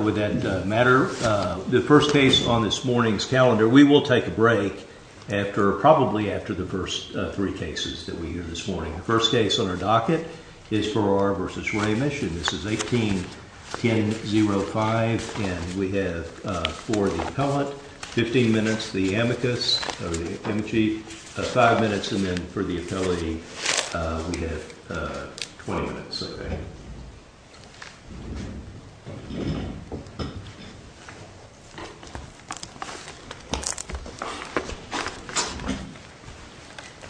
Would that matter? The first case on this morning's calendar, we will take a break after probably after the first three cases that we hear this morning. The first case on our docket is Farrar v. Raemisch and this is 18-10-05 and we have for the appellate 15 minutes, the amicus amici, five minutes and then for the appellate we have 20 minutes.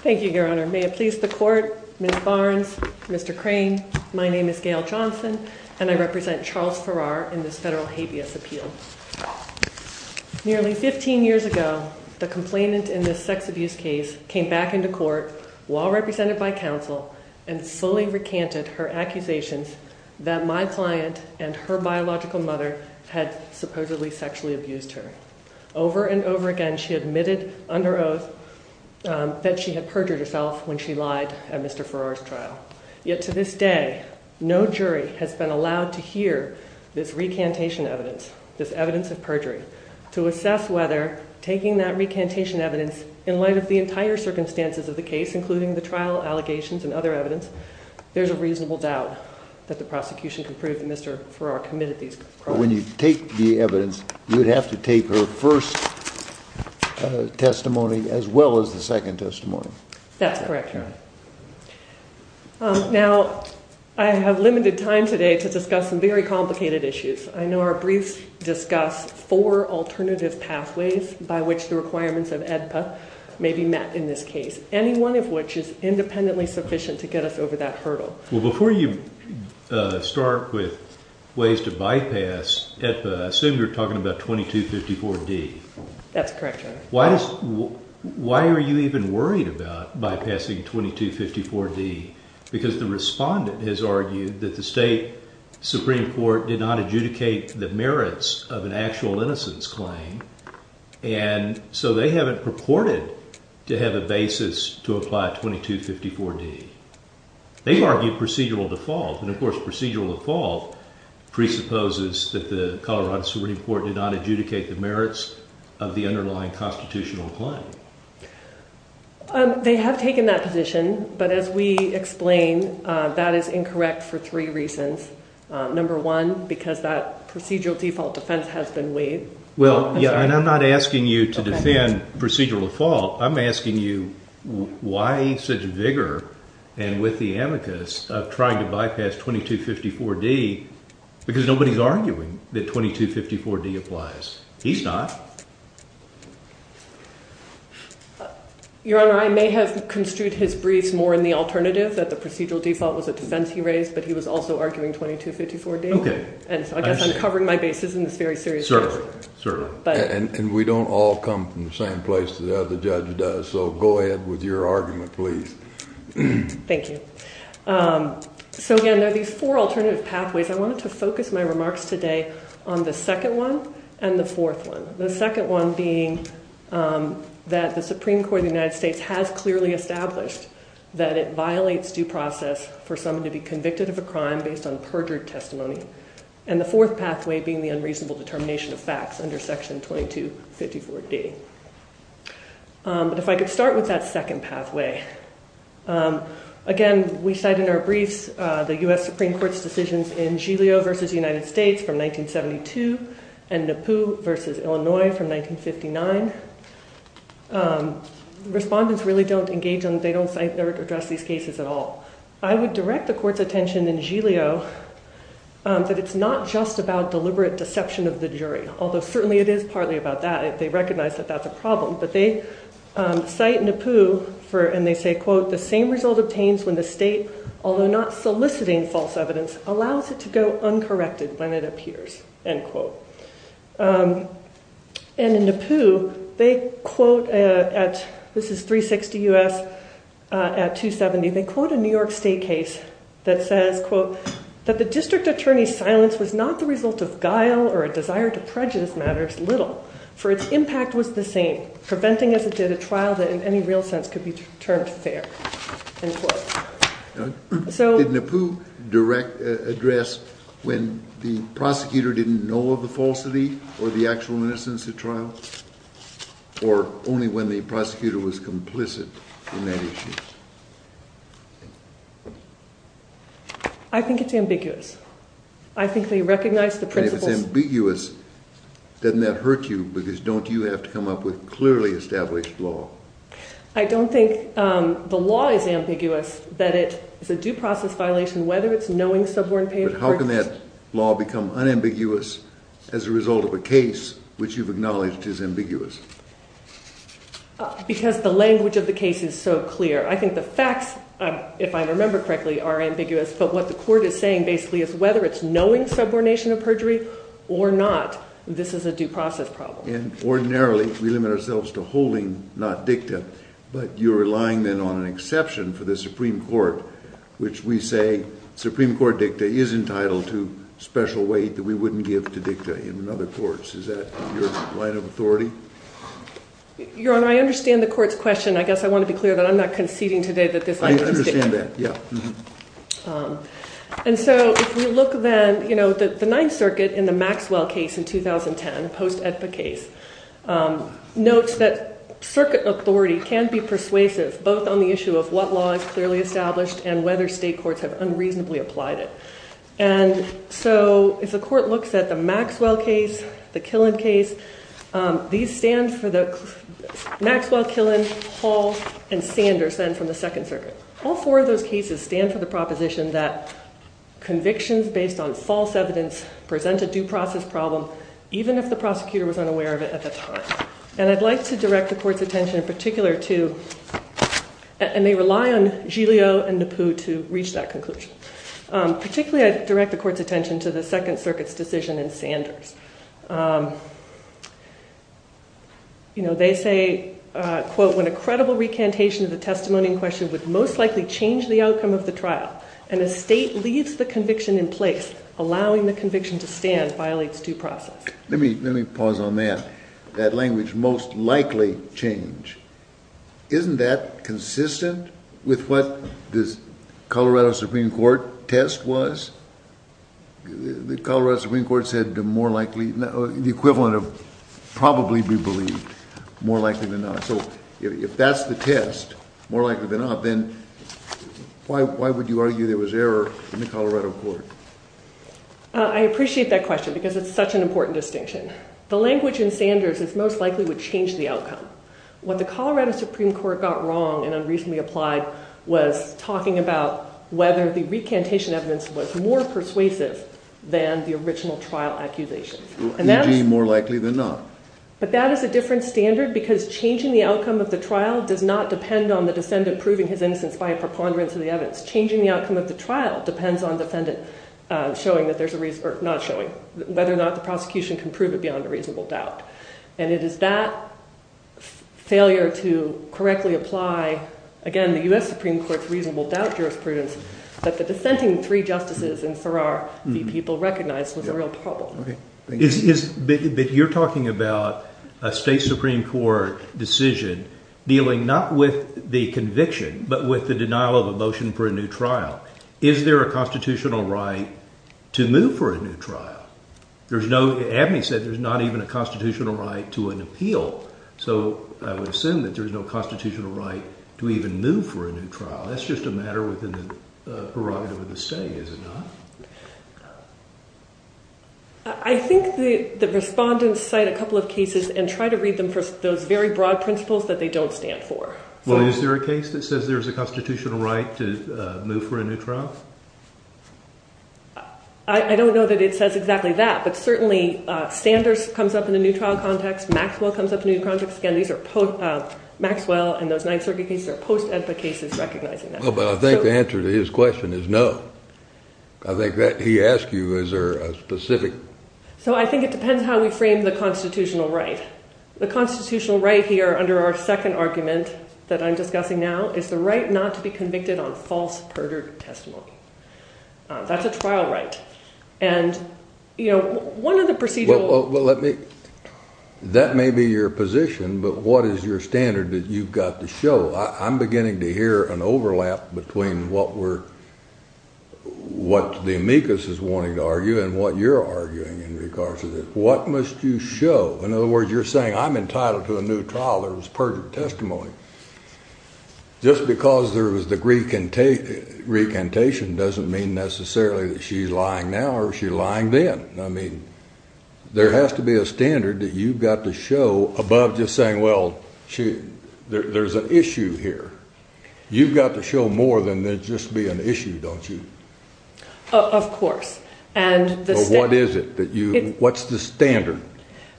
Thank you, your honor. May it please the court, Ms. Barnes, Mr. Crane, my name is Gayle Johnson and I represent Charles Farrar in this federal habeas appeal. Nearly 15 years ago, the complainant in this sex abuse case came back into court while represented by counsel and slowly recanted her accusations that my client and her biological mother had supposedly sexually abused her. Over and over again, she admitted under oath that she had perjured herself when she lied at Mr. Farrar's trial. Yet to this day, no jury has been allowed to hear this recantation evidence, this evidence of perjury. To assess whether taking that recantation evidence in light of the entire circumstances of the case including the trial allegations and other evidence, there's a reasonable doubt that the prosecution can prove that Mr. Farrar committed these crimes. When you take the evidence, you would have to take her first testimony as well as the second testimony. That's correct, your honor. Now, I have limited time today to discuss some very complicated issues. I know our briefs discuss four alternative pathways by which the requirements of AEDPA may be met in this case, any one of which is independently sufficient to get us over that hurdle. Well, before you start with ways to bypass AEDPA, I assume you're talking about 2254-D? That's correct, your honor. Why are you even worried about bypassing 2254-D? Because the respondent has argued that the state Supreme Court did not adjudicate the merits of an actual innocence claim, and so they haven't purported to have a basis to apply 2254-D. They've argued procedural default, and of course procedural default presupposes that the Colorado Supreme Court did not adjudicate the merits of the underlying constitutional claim. They have taken that position, but as we explain, that is incorrect for three reasons. Number one, because that procedural default defense has been waived. Well, yeah, and I'm not asking you to defend procedural default. I'm asking you why such vigor and with the amicus of trying to bypass 2254-D because nobody's arguing that 2254-D applies. He's not. Your honor, I may have construed his briefs more in the alternative that the procedural default was a defense he raised, but he was also arguing 2254-D. Okay. And so I guess I'm covering my bases in this very serious case. Certainly, certainly. And we don't all come from the same place that the judge does, so go ahead with your argument, please. Thank you. So again, there are these four alternative pathways. I wanted to focus my remarks today on the second one and the fourth one. The second one being that the Supreme Court of the United States has clearly established that it violates due process for someone to be convicted of a crime based on perjured testimony. And the fourth pathway being the unreasonable determination of facts under 2254-D. But if I could start with that second pathway. Again, we cite in our briefs the U.S. Supreme Court's decisions in Giglio v. United States from 1972 and Nippoo v. Illinois from 1959. Respondents really don't engage on, they don't address these cases at all. I would direct the court's attention in Giglio that it's not just about deliberate deception of the jury, although certainly it is partly about that. They recognize that that's a problem. But they cite Nippoo for, and they say, quote, the same result obtains when the state, although not soliciting false evidence, allows it to go uncorrected when it appears, end quote. And in Nippoo, they quote at, this is 360 U.S. at 270, they quote a New York State case that says, quote, that the district attorney's silence was not the result of guile or a desire to prejudice matters little, for its impact was the same, preventing as it did a trial that in any real sense could be termed fair, end quote. So. Did Nippoo direct, address when the prosecutor didn't know of the falsity or the actual innocence at trial? Or only when the prosecutor was complicit in that issue? I think it's ambiguous. I think they recognize the principles. It's ambiguous. Doesn't that hurt you? Because don't you have to come up with clearly established law? I don't think the law is ambiguous, that it is a due process violation, whether it's knowing suborn payment. But how can that law become unambiguous as a result of a case which you've acknowledged is ambiguous? Because the language of the case is so clear. I think the facts, if I remember correctly, are ambiguous. But what the court is saying basically is whether it's knowing subordination of perjury or not, this is a due process problem. And ordinarily, we limit ourselves to holding not dicta, but you're relying then on an exception for the Supreme Court, which we say Supreme Court dicta is entitled to special weight that we wouldn't give to dicta in other courts. Is that your line of authority? Your Honor, I understand the court's question. I guess I want to be clear that I'm not conceding today that this language is dicta. I understand that, yeah. And so if we look then, you know, the Ninth Circuit in the Maxwell case in 2010, post-EDPA case, notes that circuit authority can be persuasive both on the issue of what law is clearly established and whether state courts have unreasonably applied it. And so if the court looks at the Maxwell case, the Killen case, these stand for the Maxwell, Killen, Hall, and Sanders then from the Second Circuit. Most cases stand for the proposition that convictions based on false evidence present a due process problem, even if the prosecutor was unaware of it at the time. And I'd like to direct the court's attention in particular to, and they rely on Giglio and Napu to reach that conclusion. Particularly, I direct the court's attention to the Second Circuit's decision in Sanders. You know, they say, quote, when a credible recantation of the testimony in question would most likely change the outcome of the trial, and a state leaves the conviction in place, allowing the conviction to stand violates due process. Let me pause on that. That language, most likely change, isn't that consistent with what this Colorado Supreme Court test was? The Colorado Supreme Court said the more likely, the equivalent of probably be believed, more likely than not. So if that's the test, more likely than not, then why would you argue there was error in the Colorado court? I appreciate that question because it's such an important distinction. The language in Sanders is most likely would change the outcome. What the Colorado Supreme Court got wrong and unreasonably applied was talking about whether the recantation evidence was more persuasive than the original trial accusation. More likely than not. But that is a different standard because changing the outcome of the trial does not depend on the defendant proving his innocence by a preponderance of the evidence. Changing the outcome of the trial depends on the defendant showing that there's a reason, or not showing, whether or not the prosecution can prove it beyond a reasonable doubt. And it is that failure to correctly apply, again, the U.S. Supreme Court's reasonable doubt jurisprudence that the dissenting three justices and Farrar the people recognized was a real problem. But you're talking about a state Supreme Court decision dealing not with the conviction but with the denial of a motion for a new trial. Is there a constitutional right to move for a new trial? There's no, Abney said, there's not even a constitutional right to an appeal. So I would assume that there's no constitutional right to even move for a new trial. That's just a matter within the prerogative of the state, is it not? I think the respondents cite a couple of cases and try to read them for those very broad principles that they don't stand for. Well, is there a case that says there's a constitutional right to move for a new trial? I don't know that it says exactly that, but certainly Sanders comes up in a new trial context. Maxwell comes up in a new context. Again, these are Maxwell and those Ninth Circuit cases are post-EDPA cases recognizing that. I think the answer to his question is no. I think that he asked you, is there a specific... So I think it depends how we frame the constitutional right. The constitutional right here under our second argument that I'm discussing now is the right not to be convicted on false perjured testimony. That's a trial right. And one of the procedural... That may be your position, but what is your standard that you've got to show? I'm beginning to hear an overlap between what the amicus is wanting to argue and what you're arguing in regards to this. What must you show? In other words, you're saying I'm entitled to a new trial that was perjured testimony. Just because there was the recantation doesn't mean necessarily that she's lying now or she's lying then. I mean, there has to be a standard that you've got to show above just saying, well, there's an issue here. You've got to show more than just be an issue, don't you? Of course. What is it? What's the standard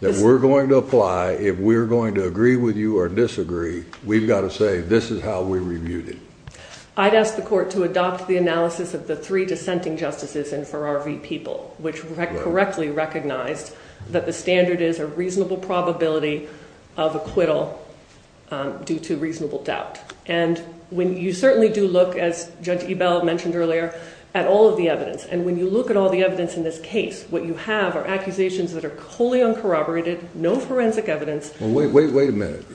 that we're going to apply if we're going to agree with you or disagree? We've got to say, this is how we reviewed it. I'd ask the court to adopt the analysis of the three dissenting justices in Farrar v. People, which correctly recognized that the standard is a reasonable probability of acquittal due to reasonable doubt. When you certainly do look, as Judge Ebell mentioned earlier, at all of the evidence, and when you look at all the evidence in this case, what you have are accusations that are wholly uncorroborated, no forensic evidence. Wait a minute.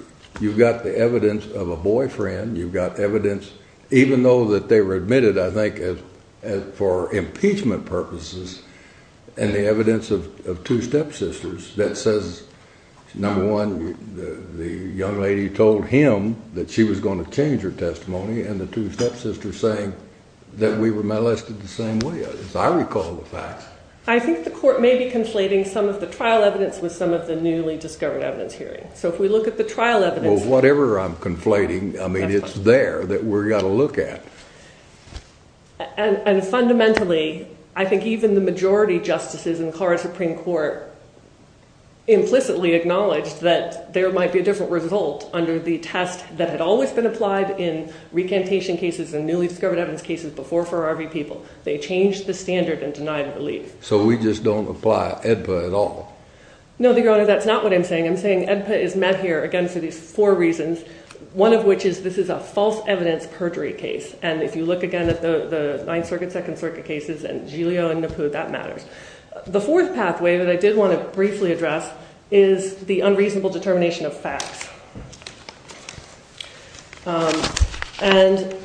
You've got the evidence of a boyfriend. You've got evidence, even though that they were admitted, I think, for impeachment purposes, and the evidence of two stepsisters that says, number one, the young lady told him that she was going to change her testimony, and the two stepsisters saying that we were molested the same way, as I recall the facts. I think the court may be conflating some of the trial evidence with some of the newly discovered evidence here. So if we look at the trial evidence... Well, whatever I'm conflating, I mean, it's there that we've got to look at. And fundamentally, I think even the majority justices in the Colorado Supreme Court implicitly acknowledged that there might be a different result under the test that had always been applied in recantation cases and newly discovered evidence cases before for RV people. They changed the standard and denied relief. So we just don't apply AEDPA at all? No, Your Honor, that's not what I'm saying. I'm saying AEDPA is met here, again, for these four reasons, one of which is this is a false evidence perjury case. And if you look again at the Ninth Circuit, Second Circuit cases and Giglio and Nippud, that matters. The fourth pathway that I did want to briefly address is the unreasonable determination of facts. And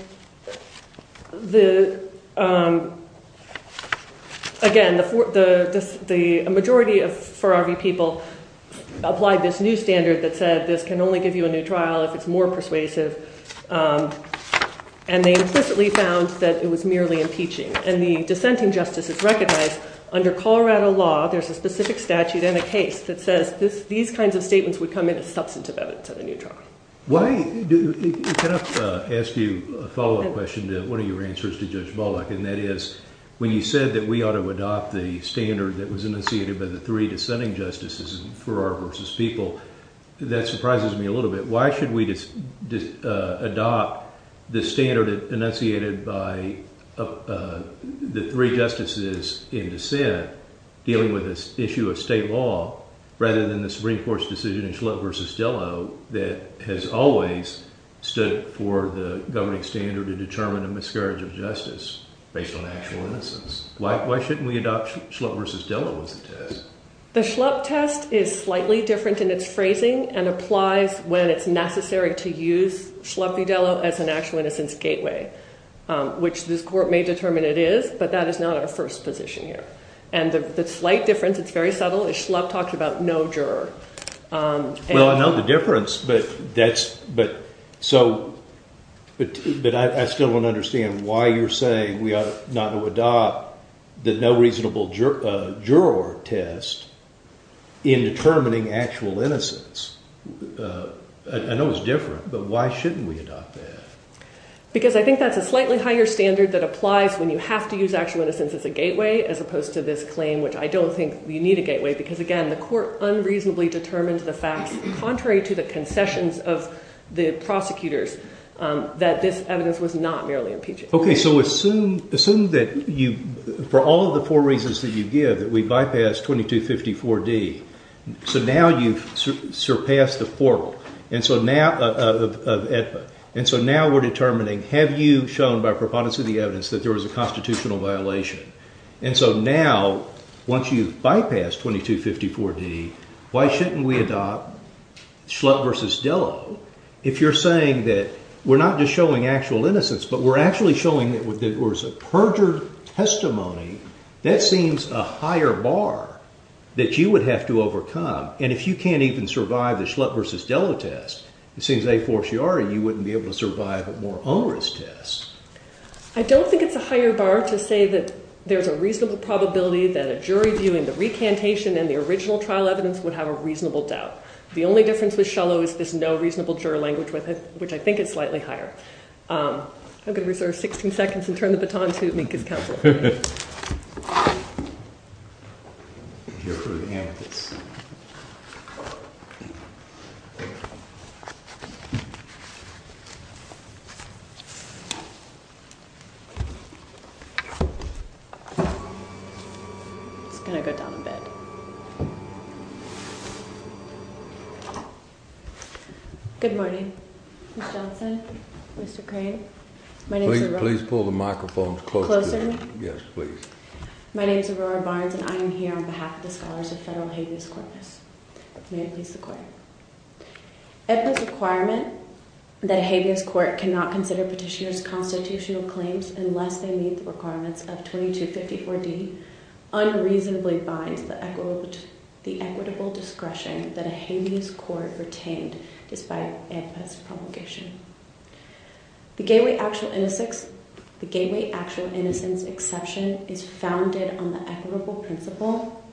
again, a majority of for RV people applied this new standard that said this can only give you a new trial if it's more persuasive. And they implicitly found that it was merely impeaching. And the dissenting justices recognized under Colorado law, there's a specific statute and a case that says these kinds of statements would come in as substantive evidence of a new trial. Why... Can I ask you a follow-up question to one of your answers to Judge Baldock? And that is, when you said that we ought to adopt the standard that was initiated by the three that surprises me a little bit. Why should we just adopt the standard enunciated by the three justices in dissent dealing with this issue of state law, rather than the Supreme Court's decision in Schlupp v. Dello that has always stood for the governing standard to determine a miscarriage of justice based on actual innocence? Why shouldn't we adopt Schlupp v. Dello as a test? The Schlupp test is slightly different in its phrasing and applies when it's necessary to use Schlupp v. Dello as an actual innocence gateway, which this court may determine it is, but that is not our first position here. And the slight difference, it's very subtle, is Schlupp talked about no juror. Well, I know the difference, but I still don't understand why you're saying we ought not to adopt the no reasonable juror test in determining actual innocence. I know it's different, but why shouldn't we adopt that? Because I think that's a slightly higher standard that applies when you have to use actual innocence as a gateway, as opposed to this claim, which I don't think you need a gateway, because again, the court unreasonably determined the facts, contrary to the concessions of the prosecutors, that this evidence was not merely impeaching. Okay, so assume that for all of the four reasons that you give, that we bypassed 2254 D. So now you've surpassed the four of EDPA. And so now we're determining, have you shown by preponderance of the evidence that there was a constitutional violation? And so now, once you've adopted Schlupp versus Dello, if you're saying that we're not just showing actual innocence, but we're actually showing that there was a perjured testimony, that seems a higher bar that you would have to overcome. And if you can't even survive the Schlupp versus Dello test, it seems a fortiori, you wouldn't be able to survive a more onerous test. I don't think it's a higher bar to say that there's a reasonable probability that a jury in the recantation and the original trial evidence would have a reasonable doubt. The only difference with Shullo is there's no reasonable juror language with it, which I think is slightly higher. I'm going to reserve 16 seconds and turn the baton to Minkus Keltz. It's going to go down a bit. Good morning, Mr. Johnson, Mr. Crane. Please pull the microphone closer. Yes, please. My name is Aurora Barnes and I am here on behalf of the scholars of federal habeas corpus. May it please the court. If the requirement that a habeas court cannot consider petitioners constitutional claims unless they meet the requirements of 2254D unreasonably binds the equitable discretion that a habeas court retained despite amicus propagation. The gateway actual innocence exception is founded on the equitable principle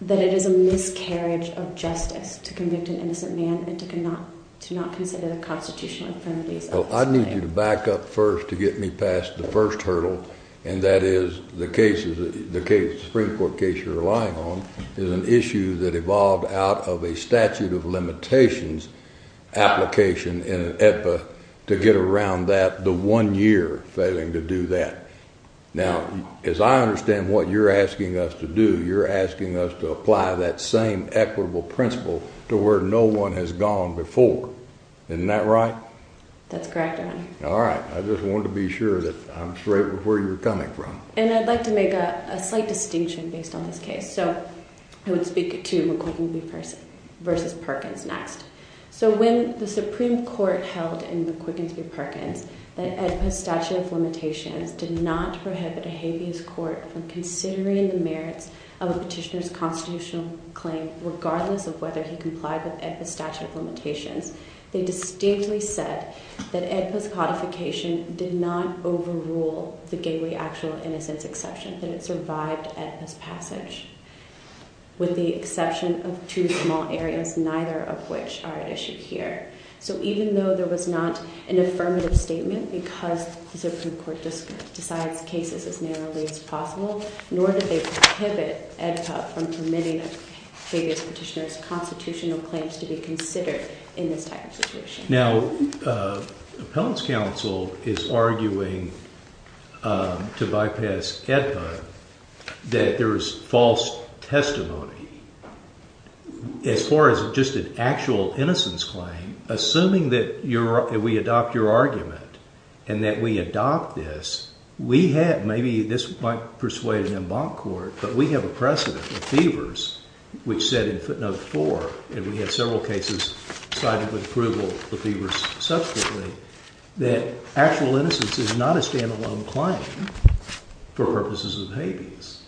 that it is a miscarriage of justice to convict an innocent man and to not consider the constitutional affirmative. I need you to back up first to get me past the first hurdle, and that is the case, the case, the Supreme Court case you're relying on is an issue that evolved out of a statute of limitations application in an epa to get around that the one year failing to do that. Now, as I understand what you're asking us to do, you're asking us to apply that same equitable principle to where no one has gone before. Isn't that right? That's correct. All right. I just wanted to be sure that I'm straight where you're coming from. And I'd like to make a slight distinction based on this case. So I would speak to McQuiggan versus Perkins next. So when the Supreme Court held in the quickens be Perkins, the statute of limitations did not prohibit a habeas court from considering the merits of a petitioner's constitutional claim, regardless of whether he complied with the statute of limitations. They distinctly said that it was codification did not overrule the gateway, actual innocence exception that it survived as passage with the exception of two small areas, neither of which are at issue here. So even though there was not an affirmative statement because the Supreme Court decides cases as narrowly as possible, nor did they prohibit from permitting a petitioner's constitutional claims to be considered in this type of situation. Now, Appellant's counsel is arguing to bypass that there is false testimony. As far as just an actual innocence claim, assuming that we adopt your argument and that we adopt this, we have, maybe this might persuade an embankment court, but we have a precedent of fevers, which said in footnote four, and we had several cases cited with approval of the fevers subsequently, that actual innocence is not a standalone claim for purposes of habeas.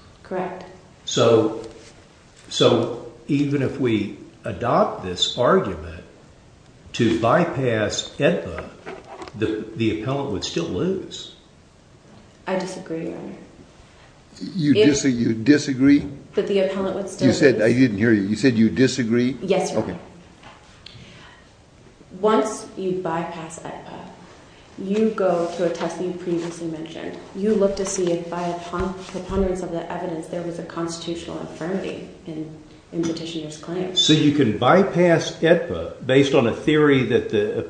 So even if we adopt this argument to bypass EDPA, the Appellant would still lose. I disagree, Your Honor. You disagree? That the Appellant would still lose? I didn't hear you. You said you disagree? Yes, Your Honor. Okay. Once you bypass EDPA, you go to a test that you previously mentioned. You look to see if by a preponderance of the evidence, there was a constitutional infirmity in petitioner's claims. So you can bypass EDPA based on a theory that the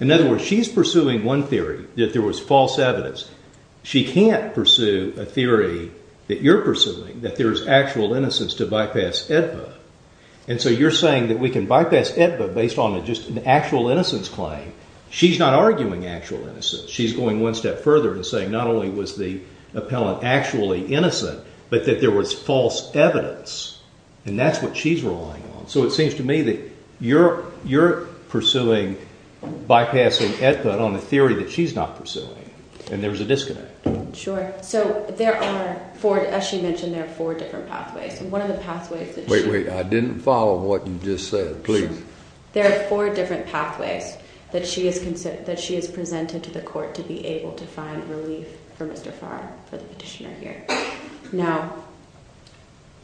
In other words, she's pursuing one theory, that there was false evidence. She can't pursue a theory that you're pursuing, that there's actual innocence to bypass EDPA. And so you're saying that we can bypass EDPA based on just an actual innocence claim. She's not arguing actual innocence. She's going one step further and saying not only was the Appellant actually innocent, but that there was false evidence. And that's what she's relying on. So it seems to me that you're pursuing bypassing EDPA on a theory that she's not pursuing, and there's a disconnect. Sure. So there are four, as she mentioned, there are four different pathways. And one of the pathways that she- Wait, wait. I didn't follow what you just said. Please. There are four different pathways that she has presented to the court to be able to find relief for Mr. Farr, for the petitioner here. Now,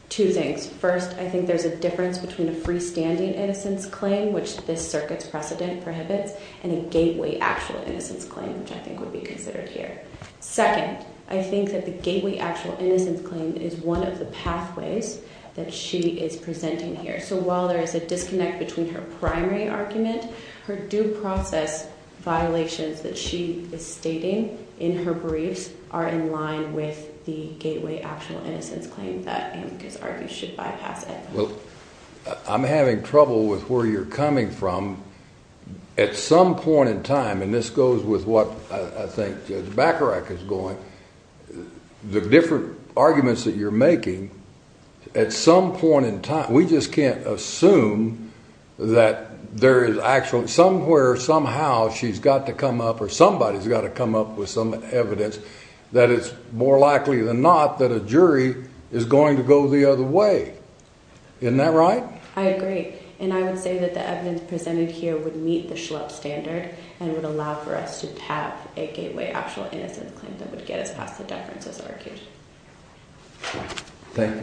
two things. First, I think there's a difference between a freestanding innocence claim, which this circuit's precedent prohibits, and a gateway actual innocence claim, which I think would be considered here. Second, I think that the gateway actual innocence claim is one of the pathways that she is presenting here. So while there is a disconnect between her primary argument, her due process violations that she is stating in her briefs are in line with the gateway actual innocence claim that Amicus argues should bypass EDPA. Well, I'm having trouble with where you're coming from. At some point in time, and this goes with what I think Judge Bacharach is going, the different arguments that you're making, at some point in time, we just can't assume that there is actually somewhere, somehow, she's got to come up, or somebody's got to come up with some evidence that it's more likely than not that a jury is going to go the other way. Isn't that right? I agree. And I would say that the evidence presented here would meet the Schlupp standard, and would allow for us to have a gateway actual innocence claim that would get us past the gateway actual innocence claim.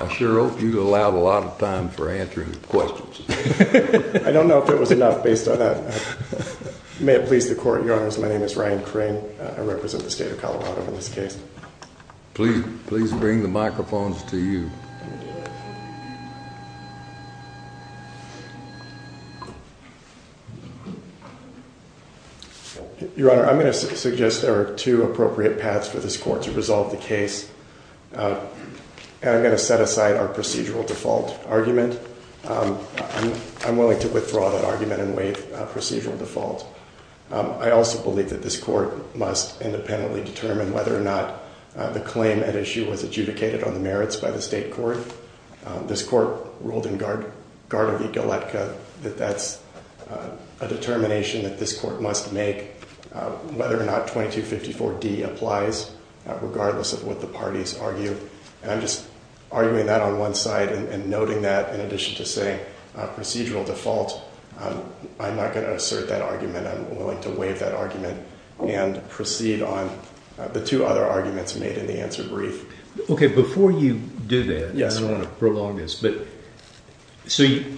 I sure hope you allowed a lot of time for answering questions. I don't know if it was enough based on that. May it please the court, your honors, my name is Ryan Crane. I represent the state of Colorado in this case. Please bring the microphones to you. Your honor, I'm going to suggest there are two appropriate paths for this court to resolve the case. And I'm going to set aside our procedural default argument. I'm willing to withdraw that procedural default. I also believe that this court must independently determine whether or not the claim at issue was adjudicated on the merits by the state court. This court ruled in Guard of Egalitka that that's a determination that this court must make, whether or not 2254D applies, regardless of what the parties argue. And I'm just arguing that on I'm not going to assert that argument. I'm willing to waive that argument and proceed on the two other arguments made in the answer brief. Okay. Before you do that, I don't want to prolong this, but see,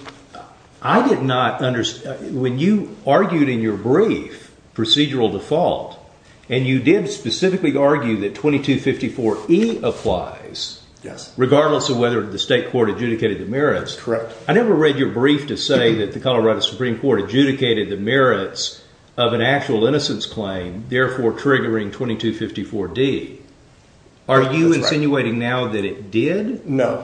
I did not understand when you argued in your brief procedural default, and you did specifically argue that 2254E applies, regardless of whether the state court adjudicated the merits. Correct. I never read your brief to say that the Colorado Supreme Court adjudicated the merits of an actual innocence claim, therefore triggering 2254D. Are you insinuating now that it did? No.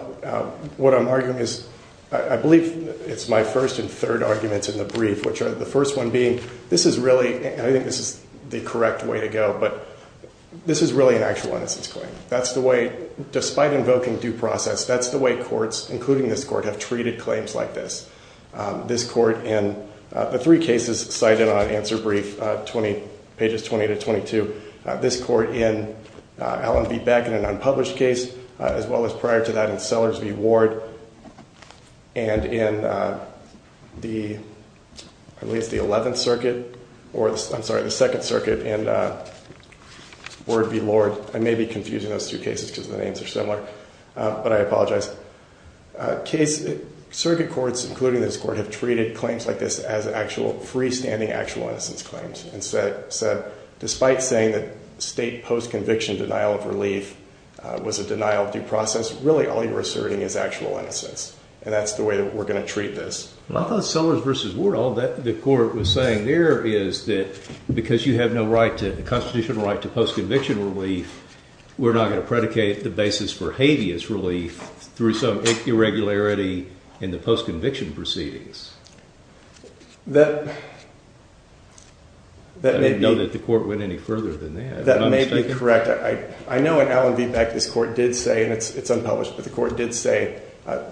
What I'm arguing is, I believe it's my first and third arguments in the brief, which are the first one being, this is really, I think this is the correct way to go, but this is really an actual innocence claim. That's the way, despite invoking due process, that's the way courts, including this court, have treated claims like this. This court in the three cases cited on answer brief, pages 20 to 22, this court in Allen v. Beck in an unpublished case, as well as prior to that in Sellers v. Ward, and in at least the 11th circuit, or I'm sorry, the second circuit in Ward v. Lord. I may be confusing those two cases because the names are similar, but I apologize. Circuit courts, including this court, have treated claims like this as freestanding actual innocence claims. Despite saying that state post-conviction denial of relief was a denial of due process, really all you're asserting is actual innocence, and that's the way that we're going to treat this. I thought Sellers v. Ward, all that the court was saying there is that because you have no constitutional right to post-conviction relief, we're not going to predicate the basis for habeas relief through some irregularity in the post-conviction proceedings. I don't know that the court went any further than that. That may be correct. I know in Allen v. Beck, this court did say, and it's unpublished, but the court did say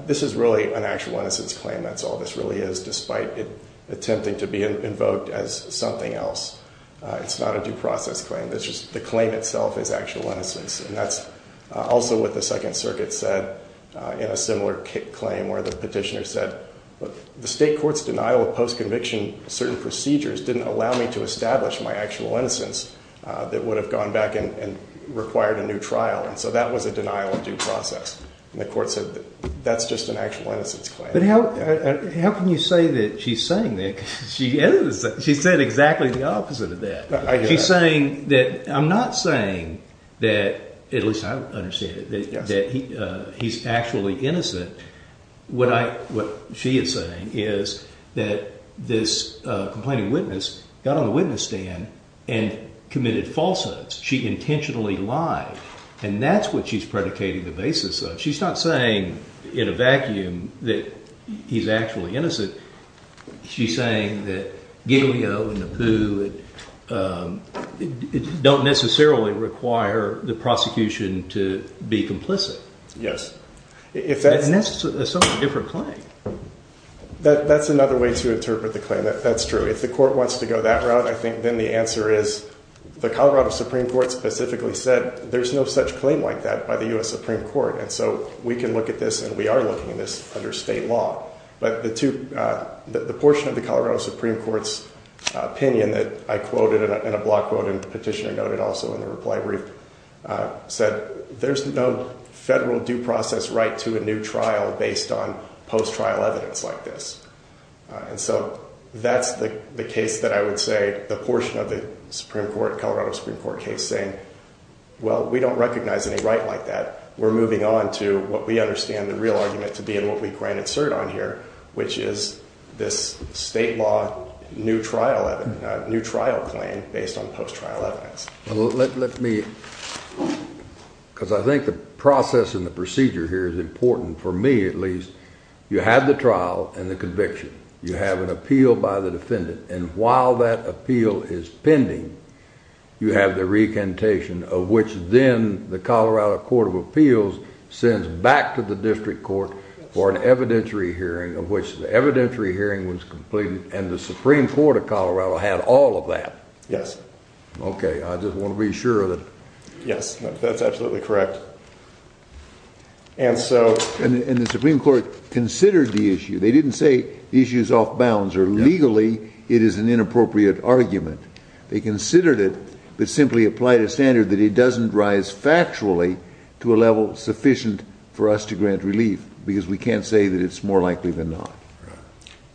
this is really an actual innocence claim. That's all this really is, despite it attempting to be invoked as something else. It's not a due process claim. The claim itself is actual innocence, and that's also what the Second Circuit said in a similar claim where the petitioner said the state court's denial of post-conviction certain procedures didn't allow me to establish my actual innocence that would have gone back and required a new trial. That was a denial of due process, and the court said that's just an actual innocence claim. But how can you say that she's saying that? She said exactly the opposite of that. I hear that. I'm not saying that, at least I understand it, that he's actually innocent. What she is saying is that this complaining witness got on the witness stand and committed falsehoods. She intentionally lied, and that's what she's predicating the basis of. She's not saying in a vacuum that he's actually innocent. She's saying that Giglio and Nabu don't necessarily require the prosecution to be complicit. Yes. And that's a somewhat different claim. That's another way to interpret the claim. That's true. If the court wants to go that route, I think then the answer is the Colorado Supreme Court specifically said there's no such claim like that by the U.S. Supreme Court, and so we can look at this, and we are looking at this under state law. But the portion of the Colorado Supreme Court's opinion that I quoted in a block quote and petitioner noted also in the reply brief said there's no federal due process right to a new trial based on post-trial evidence like this. And so that's the case that I would say the portion of the Colorado Supreme Court case saying, well, we don't recognize any right like that. We're moving on to what we understand the real argument to be and what we can insert on here, which is this state law new trial claim based on post-trial evidence. Because I think the process and the procedure here is important, for me at least. You have the trial and the conviction. You have an appeal by the defendant, and while that appeal is pending, you have the recantation, of which then the Colorado Court of Appeals sends back to the district court for an evidentiary hearing, of which the evidentiary hearing was completed, and the Supreme Court of Colorado had all of that. Yes. Okay, I just want to be sure that. Yes, that's absolutely correct. And the Supreme Court considered the issue. They didn't say the issue is off bounds or legally it is an inappropriate argument. They considered it, but simply applied a standard that it doesn't rise factually to a level sufficient for us to grant relief because we can't say that it's more likely than not.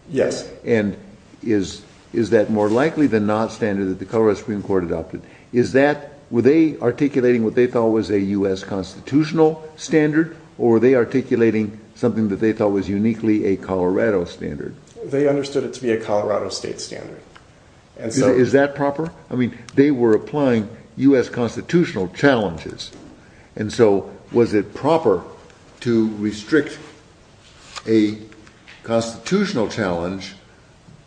Yes. And is that more likely than not standard that the Colorado Supreme Court adopted? Were they articulating what they thought was a U.S. constitutional standard, or were they articulating something that they thought was a U.S. constitutional standard? They understood it to be a Colorado state standard. Is that proper? I mean, they were applying U.S. constitutional challenges, and so was it proper to restrict a constitutional challenge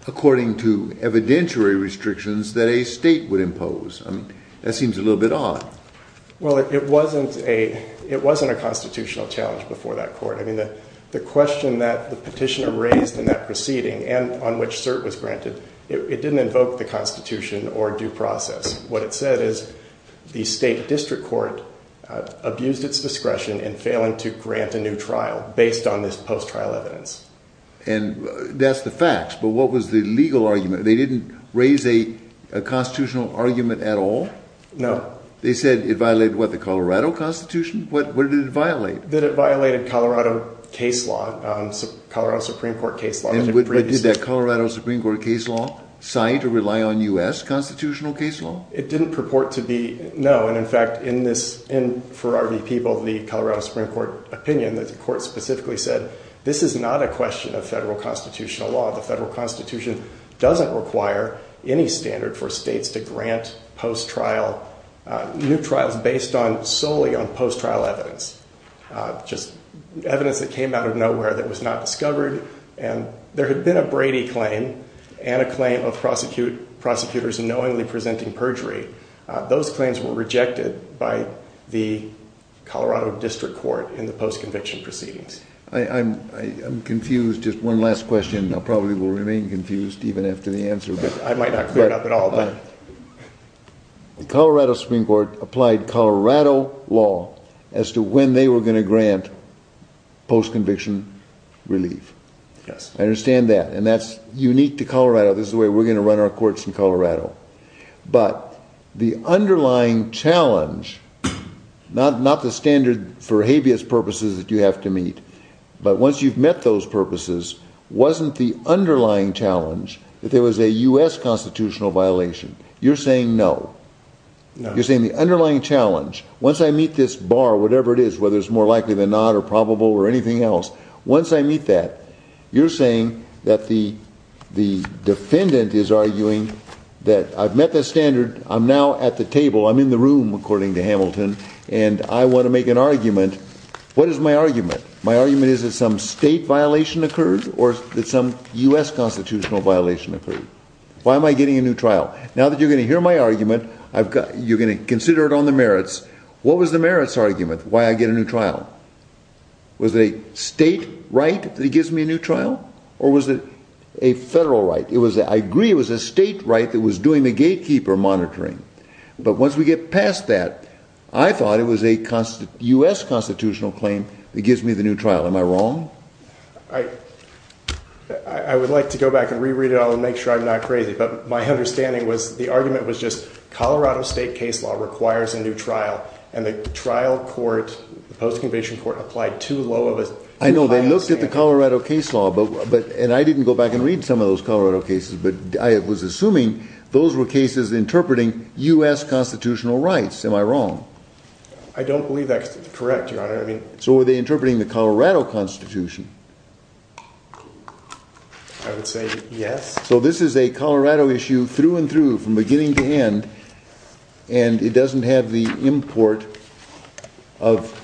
according to evidentiary restrictions that a state would impose? I mean, that seems a little bit odd. Well, it wasn't a constitutional challenge before that court. I mean, the question that the petitioner raised in that proceeding and on which cert was granted, it didn't invoke the Constitution or due process. What it said is the state district court abused its discretion in failing to grant a new trial based on this post-trial evidence. And that's the facts, but what was the legal argument? They didn't raise a constitutional argument at all? No. They said it violated what, the Colorado Constitution? What did it violate? That it violated Colorado case law, Colorado Supreme Court case law. And did that Colorado Supreme Court case law cite or rely on U.S. constitutional case law? It didn't purport to be, no. And in fact, in this, for RV People, the Colorado Supreme Court opinion, the court specifically said, this is not a question of federal constitutional law. The federal Constitution doesn't require any standard for states to grant post-trial, new trials based solely on post-trial evidence, just evidence that came out of nowhere that was not discovered. And there had been a Brady claim and a claim of prosecutors knowingly presenting perjury. Those claims were rejected by the Colorado District Court in the post-conviction proceedings. I'm confused. Just one last question. I probably will remain confused even after the answer. I might not clear it up at all. The Colorado Supreme Court applied Colorado law as to when they were going to grant post-conviction relief. I understand that. And that's unique to Colorado. This is the way we're going to run our courts in Colorado. But the underlying challenge, not the standard for habeas purposes that you have to meet, but once you've met those purposes, wasn't the underlying challenge that there was a U.S. constitutional violation? You're saying no. No. You're saying the underlying challenge, once I meet this bar, whatever it is, whether it's more likely than not or probable or anything else, once I meet that, you're saying that the defendant is arguing that I've met the standard, I'm now at the table, I'm in the room, according to Hamilton, and I want to make an argument. What is my argument? My argument is that some state violation occurred or that some U.S. constitutional violation occurred. Why am I getting a new trial? Now that you're going to hear my argument, you're going to consider it on the merits. What was the merits argument? Why I get a new trial? Was it a state right that he gives me a new trial? Or was it a federal right? I agree it was a state right that was doing the gatekeeper monitoring. But once we get past that, I thought it was a U.S. constitutional claim that gives me the new trial. Am I wrong? I would like to go back and re-read it. I'll make sure I'm not crazy. But my understanding was the argument was just Colorado state case law requires a new trial. And the trial court, the post-conviction court, applied too low of a standard. I know. They looked at the Colorado case law. And I didn't go back and read some of those Colorado cases. But I was assuming those were cases interpreting U.S. I don't believe that's correct, Your Honor. So were they interpreting the Colorado Constitution? I would say yes. So this is a Colorado issue through and through, from beginning to end. And it doesn't have the import of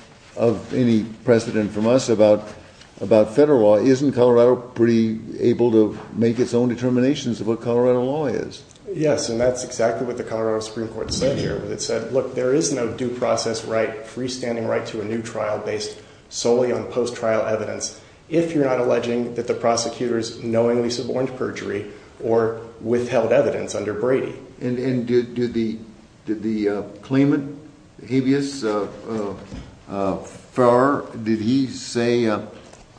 any precedent from us about federal law. Isn't Colorado pretty able to make its own determinations of what Colorado law is? Yes. And that's exactly what Colorado Supreme Court said here. It said, look, there is no due process right, freestanding right to a new trial based solely on post-trial evidence if you're not alleging that the prosecutors knowingly suborned perjury or withheld evidence under Brady. And did the claimant, habeas far, did he say,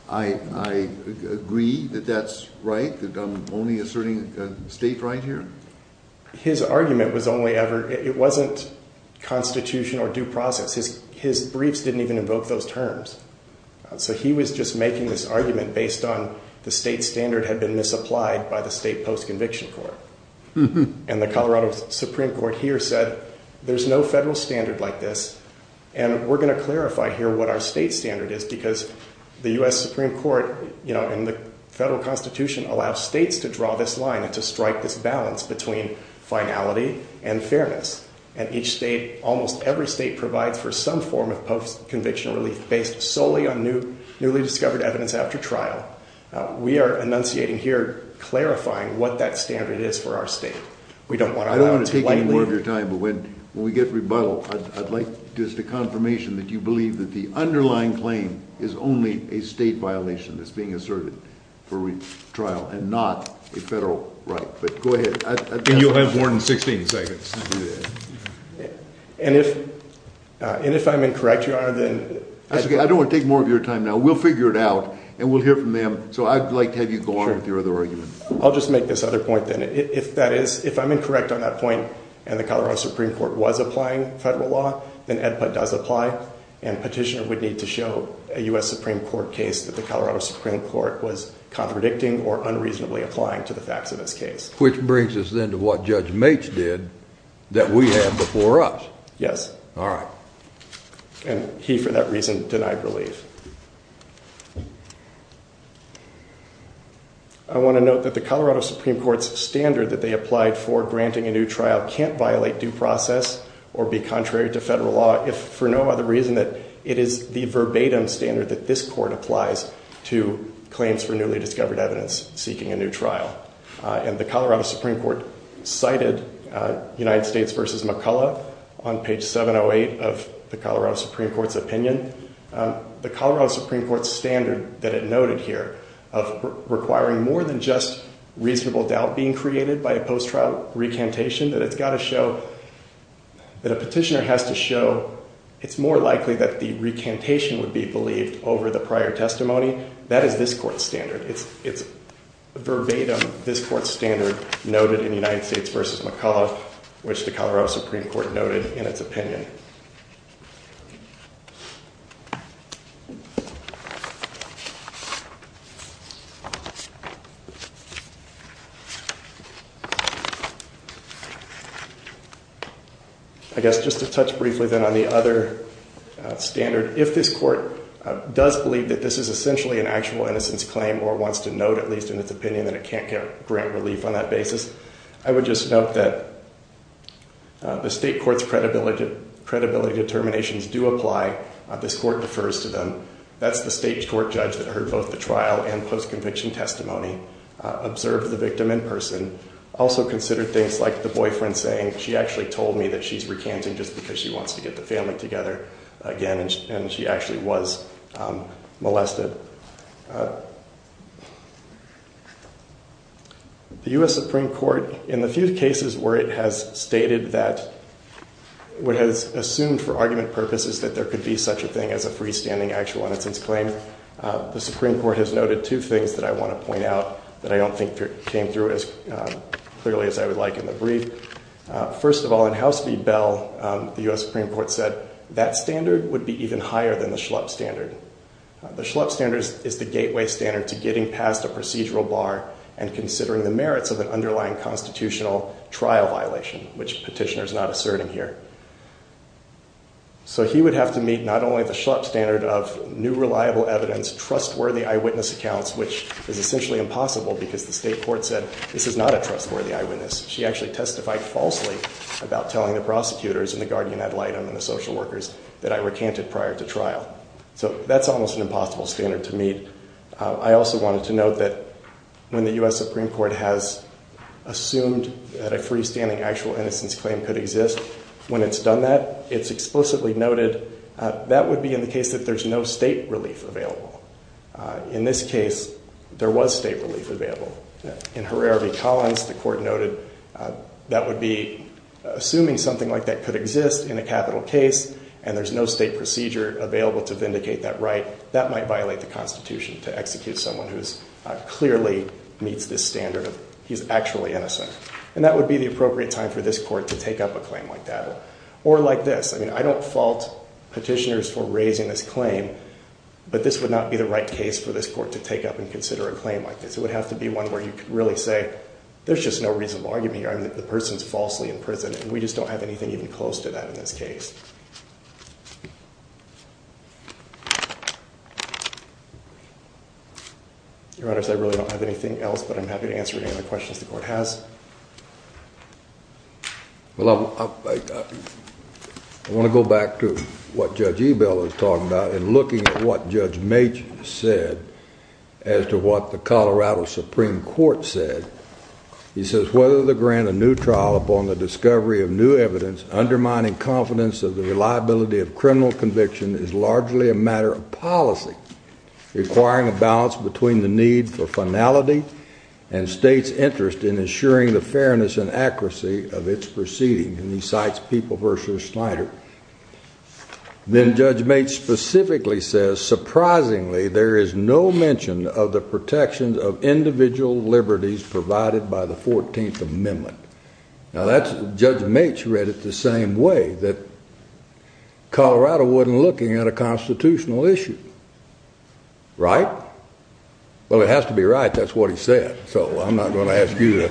I agree that that's right, that I'm only asserting state right here? His argument was only ever, it wasn't constitution or due process. His briefs didn't even invoke those terms. So he was just making this argument based on the state standard had been misapplied by the state post-conviction court. And the Colorado Supreme Court here said, there's no federal standard like this. And we're going to clarify here what our state standard is, because the U.S. Supreme Court and the federal constitution allow states to draw this line and strike this balance between finality and fairness. And each state, almost every state provides for some form of post-conviction relief based solely on newly discovered evidence after trial. We are enunciating here, clarifying what that standard is for our state. We don't want to take any more of your time, but when we get rebuttal, I'd like just a confirmation that you believe that the underlying claim is only a state violation that's being asserted for retrial and not a federal right. But go ahead. And you'll have more than 16 seconds. And if I'm incorrect, Your Honor, then... That's okay. I don't want to take more of your time now. We'll figure it out and we'll hear from them. So I'd like to have you go on with your other argument. I'll just make this other point then. If I'm incorrect on that point and the Colorado Supreme Court was applying federal law, then EDPA does apply and petitioner to show a U.S. Supreme Court case that the Colorado Supreme Court was contradicting or unreasonably applying to the facts of this case. Which brings us then to what Judge Mates did that we have before us. Yes. All right. And he, for that reason, denied relief. I want to note that the Colorado Supreme Court's standard that they applied for granting a new trial can't violate due process or be contrary to federal law if for no other reason that it the verbatim standard that this court applies to claims for newly discovered evidence seeking a new trial. And the Colorado Supreme Court cited United States versus McCullough on page 708 of the Colorado Supreme Court's opinion. The Colorado Supreme Court standard that it noted here of requiring more than just reasonable doubt being created by a post-trial recantation, that it's to show it's more likely that the recantation would be believed over the prior testimony, that is this court's standard. It's verbatim, this court's standard noted in United States versus McCullough, which the Colorado Supreme Court noted in its opinion. I guess just to touch briefly then on the other standard, if this court does believe that this is essentially an actual innocence claim or wants to note at least in its opinion that it can't grant relief on that basis, I would just note that the state court's credibility determinations do apply. This court defers to them. That's the state court judge that heard both the trial and post-conviction testimony, observed the victim in person, also considered things like the boyfriend saying, she actually told me that she's recanting just because she wants to get the family together again and she actually was molested. The U.S. Supreme Court, in the few cases where it has stated that, what has assumed for argument purposes that there could be such a thing as a freestanding actual innocence claim, the Supreme Court has noted two things that I want to point out that I don't think came through as clearly as I would like in the brief. First of all, in House v. Bell, the U.S. Supreme Court said that standard would be even higher than the Schlupp standard. The Schlupp standard is the gateway standard to getting past a procedural bar and considering the merits of an underlying constitutional trial violation, which petitioner is not asserting here. So he would have to meet not only the Schlupp standard of new reliable evidence, trustworthy eyewitness accounts, which is essentially impossible because the state court said this is not a trustworthy eyewitness. She actually testified falsely about telling the prosecutors and the guardian ad litem and the social workers that I recanted prior to trial. So that's almost an impossible standard to meet. I also wanted to point out that when the U.S. Supreme Court has assumed that a freestanding actual innocence claim could exist, when it's done that, it's explicitly noted that would be in the case that there's no state relief available. In this case, there was state relief available. In Herrera v. Collins, the court noted that would be assuming something like that could exist in a capital case and there's no state procedure available to vindicate that right. That might violate the Constitution to execute someone who clearly meets this standard of he's actually innocent. And that would be the appropriate time for this court to take up a claim like that or like this. I mean, I don't fault petitioners for raising this claim, but this would not be the right case for this court to take up and consider a claim like this. It would have to be one where you could really say there's just no reasonable argument here. The person's falsely in prison and we just don't have anything even close to that in this case. Your honors, I really don't have anything else, but I'm happy to answer any other questions the court has. Well, I want to go back to what Judge Ebel is talking about and looking at what Judge Machen said as to what the Colorado Supreme Court said. He says, whether to grant a new trial upon the discovery of new evidence, undermining confidence of the reliability of criminal conviction is largely a matter of policy, requiring a balance between the need for finality and state's interest in ensuring the fairness and accuracy of its proceeding. And he cites People v. Snyder. Then Judge Machen specifically says, surprisingly, there is no mention of the Judge Machen read it the same way, that Colorado wasn't looking at a constitutional issue. Right? Well, it has to be right. That's what he said. So I'm not going to ask you that.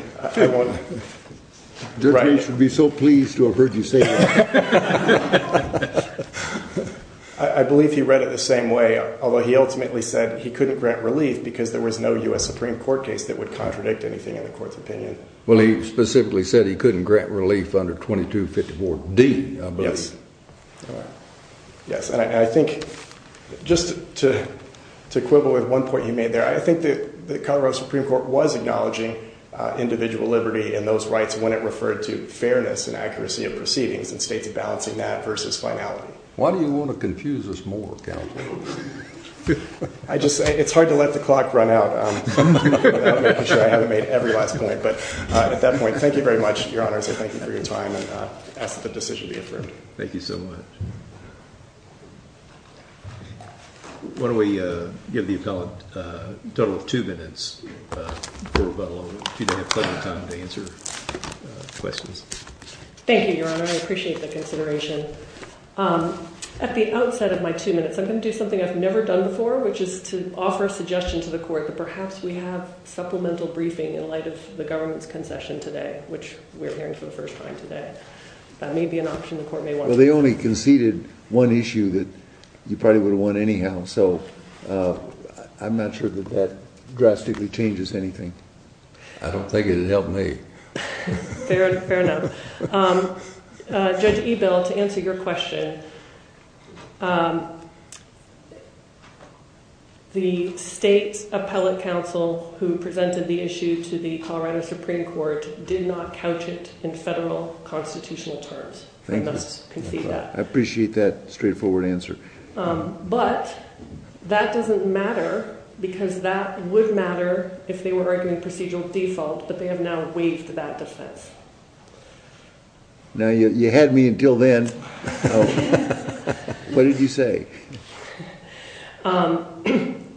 Judge Machen would be so pleased to have heard you say that. I believe he read it the same way, although he ultimately said he couldn't grant relief because there was no U.S. Supreme Court case that would contradict anything in the court's opinion. Well, he specifically said he couldn't grant relief under 2254D, I believe. Yes. And I think just to quibble with one point you made there, I think that the Colorado Supreme Court was acknowledging individual liberty and those rights when it referred to fairness and accuracy of proceedings and states balancing that versus finality. Why do you want to confuse us more, counsel? It's hard to let the clock run out. I haven't made every last point, but at that point, thank you very much, Your Honor. I say thank you for your time and ask that the decision be affirmed. Thank you so much. Why don't we give the appellant a total of two minutes, or let alone two minutes of time to answer questions. Thank you, Your Honor. I appreciate the consideration. At the outset of my two minutes, I'm going to do something I've never done before, which is to offer a suggestion to the court that perhaps we have supplemental briefing in light of the government's concession today, which we're hearing for the first time today. That may be an option the court may want. Well, they only conceded one issue that you probably would have won anyhow, so I'm not sure that that drastically changes anything. I don't think it helped me. Fair enough. Judge Ebell, to answer your question, the state's appellate counsel who presented the issue to the Colorado Supreme Court did not couch it in federal constitutional terms. I must concede that. I appreciate that straightforward answer. But that doesn't matter because that would matter if they were arguing procedural default, but they have now waived that defense. Now, you had me until then. What did you say?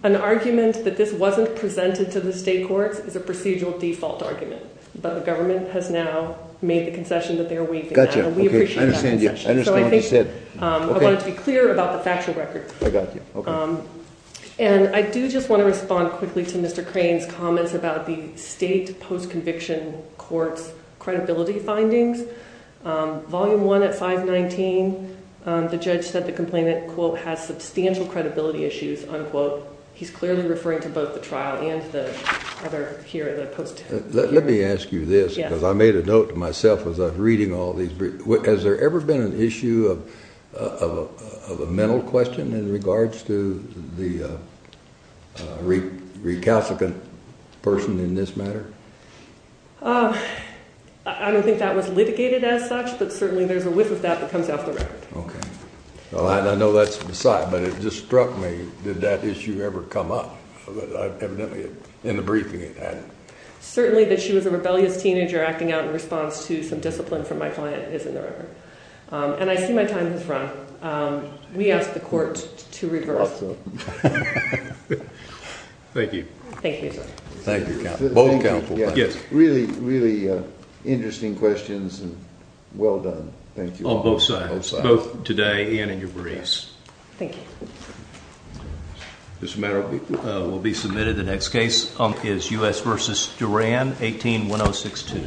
An argument that this wasn't presented to the state courts is a procedural default argument, but the government has now made the concession that they're waiving. Gotcha. Okay. I understand you. I understand what you said. I wanted to be clear about the factual record. I got you. Okay. And I do just want to respond quickly to Mr. Crane's comments about the state post-conviction court's credibility findings. Volume 1 at 519, the judge said the complainant, quote, has substantial credibility issues, unquote. He's clearly referring to both the trial and the other here, the post-trial. Let me ask you this because I made a note to myself as I was reading all these. Has there ever been an issue of a mental question in regards to the recalcitrant person in this matter? I don't think that was litigated as such, but certainly there's a whiff of that that comes off the record. Okay. I know that's beside, but it just struck me. Did that issue ever come up? Evidently, in the briefing it had. Certainly that she was a rebellious teenager acting out in response to some discipline from my client is in the record. And I see my time has run. We asked the court to reverse. Thank you. Thank you. Yes, really, really interesting questions and well done. Thank you. On both sides, both today and in your briefs. Thank you. This matter will be submitted. The next case is U.S. versus Duran, 18-1062. Thank you.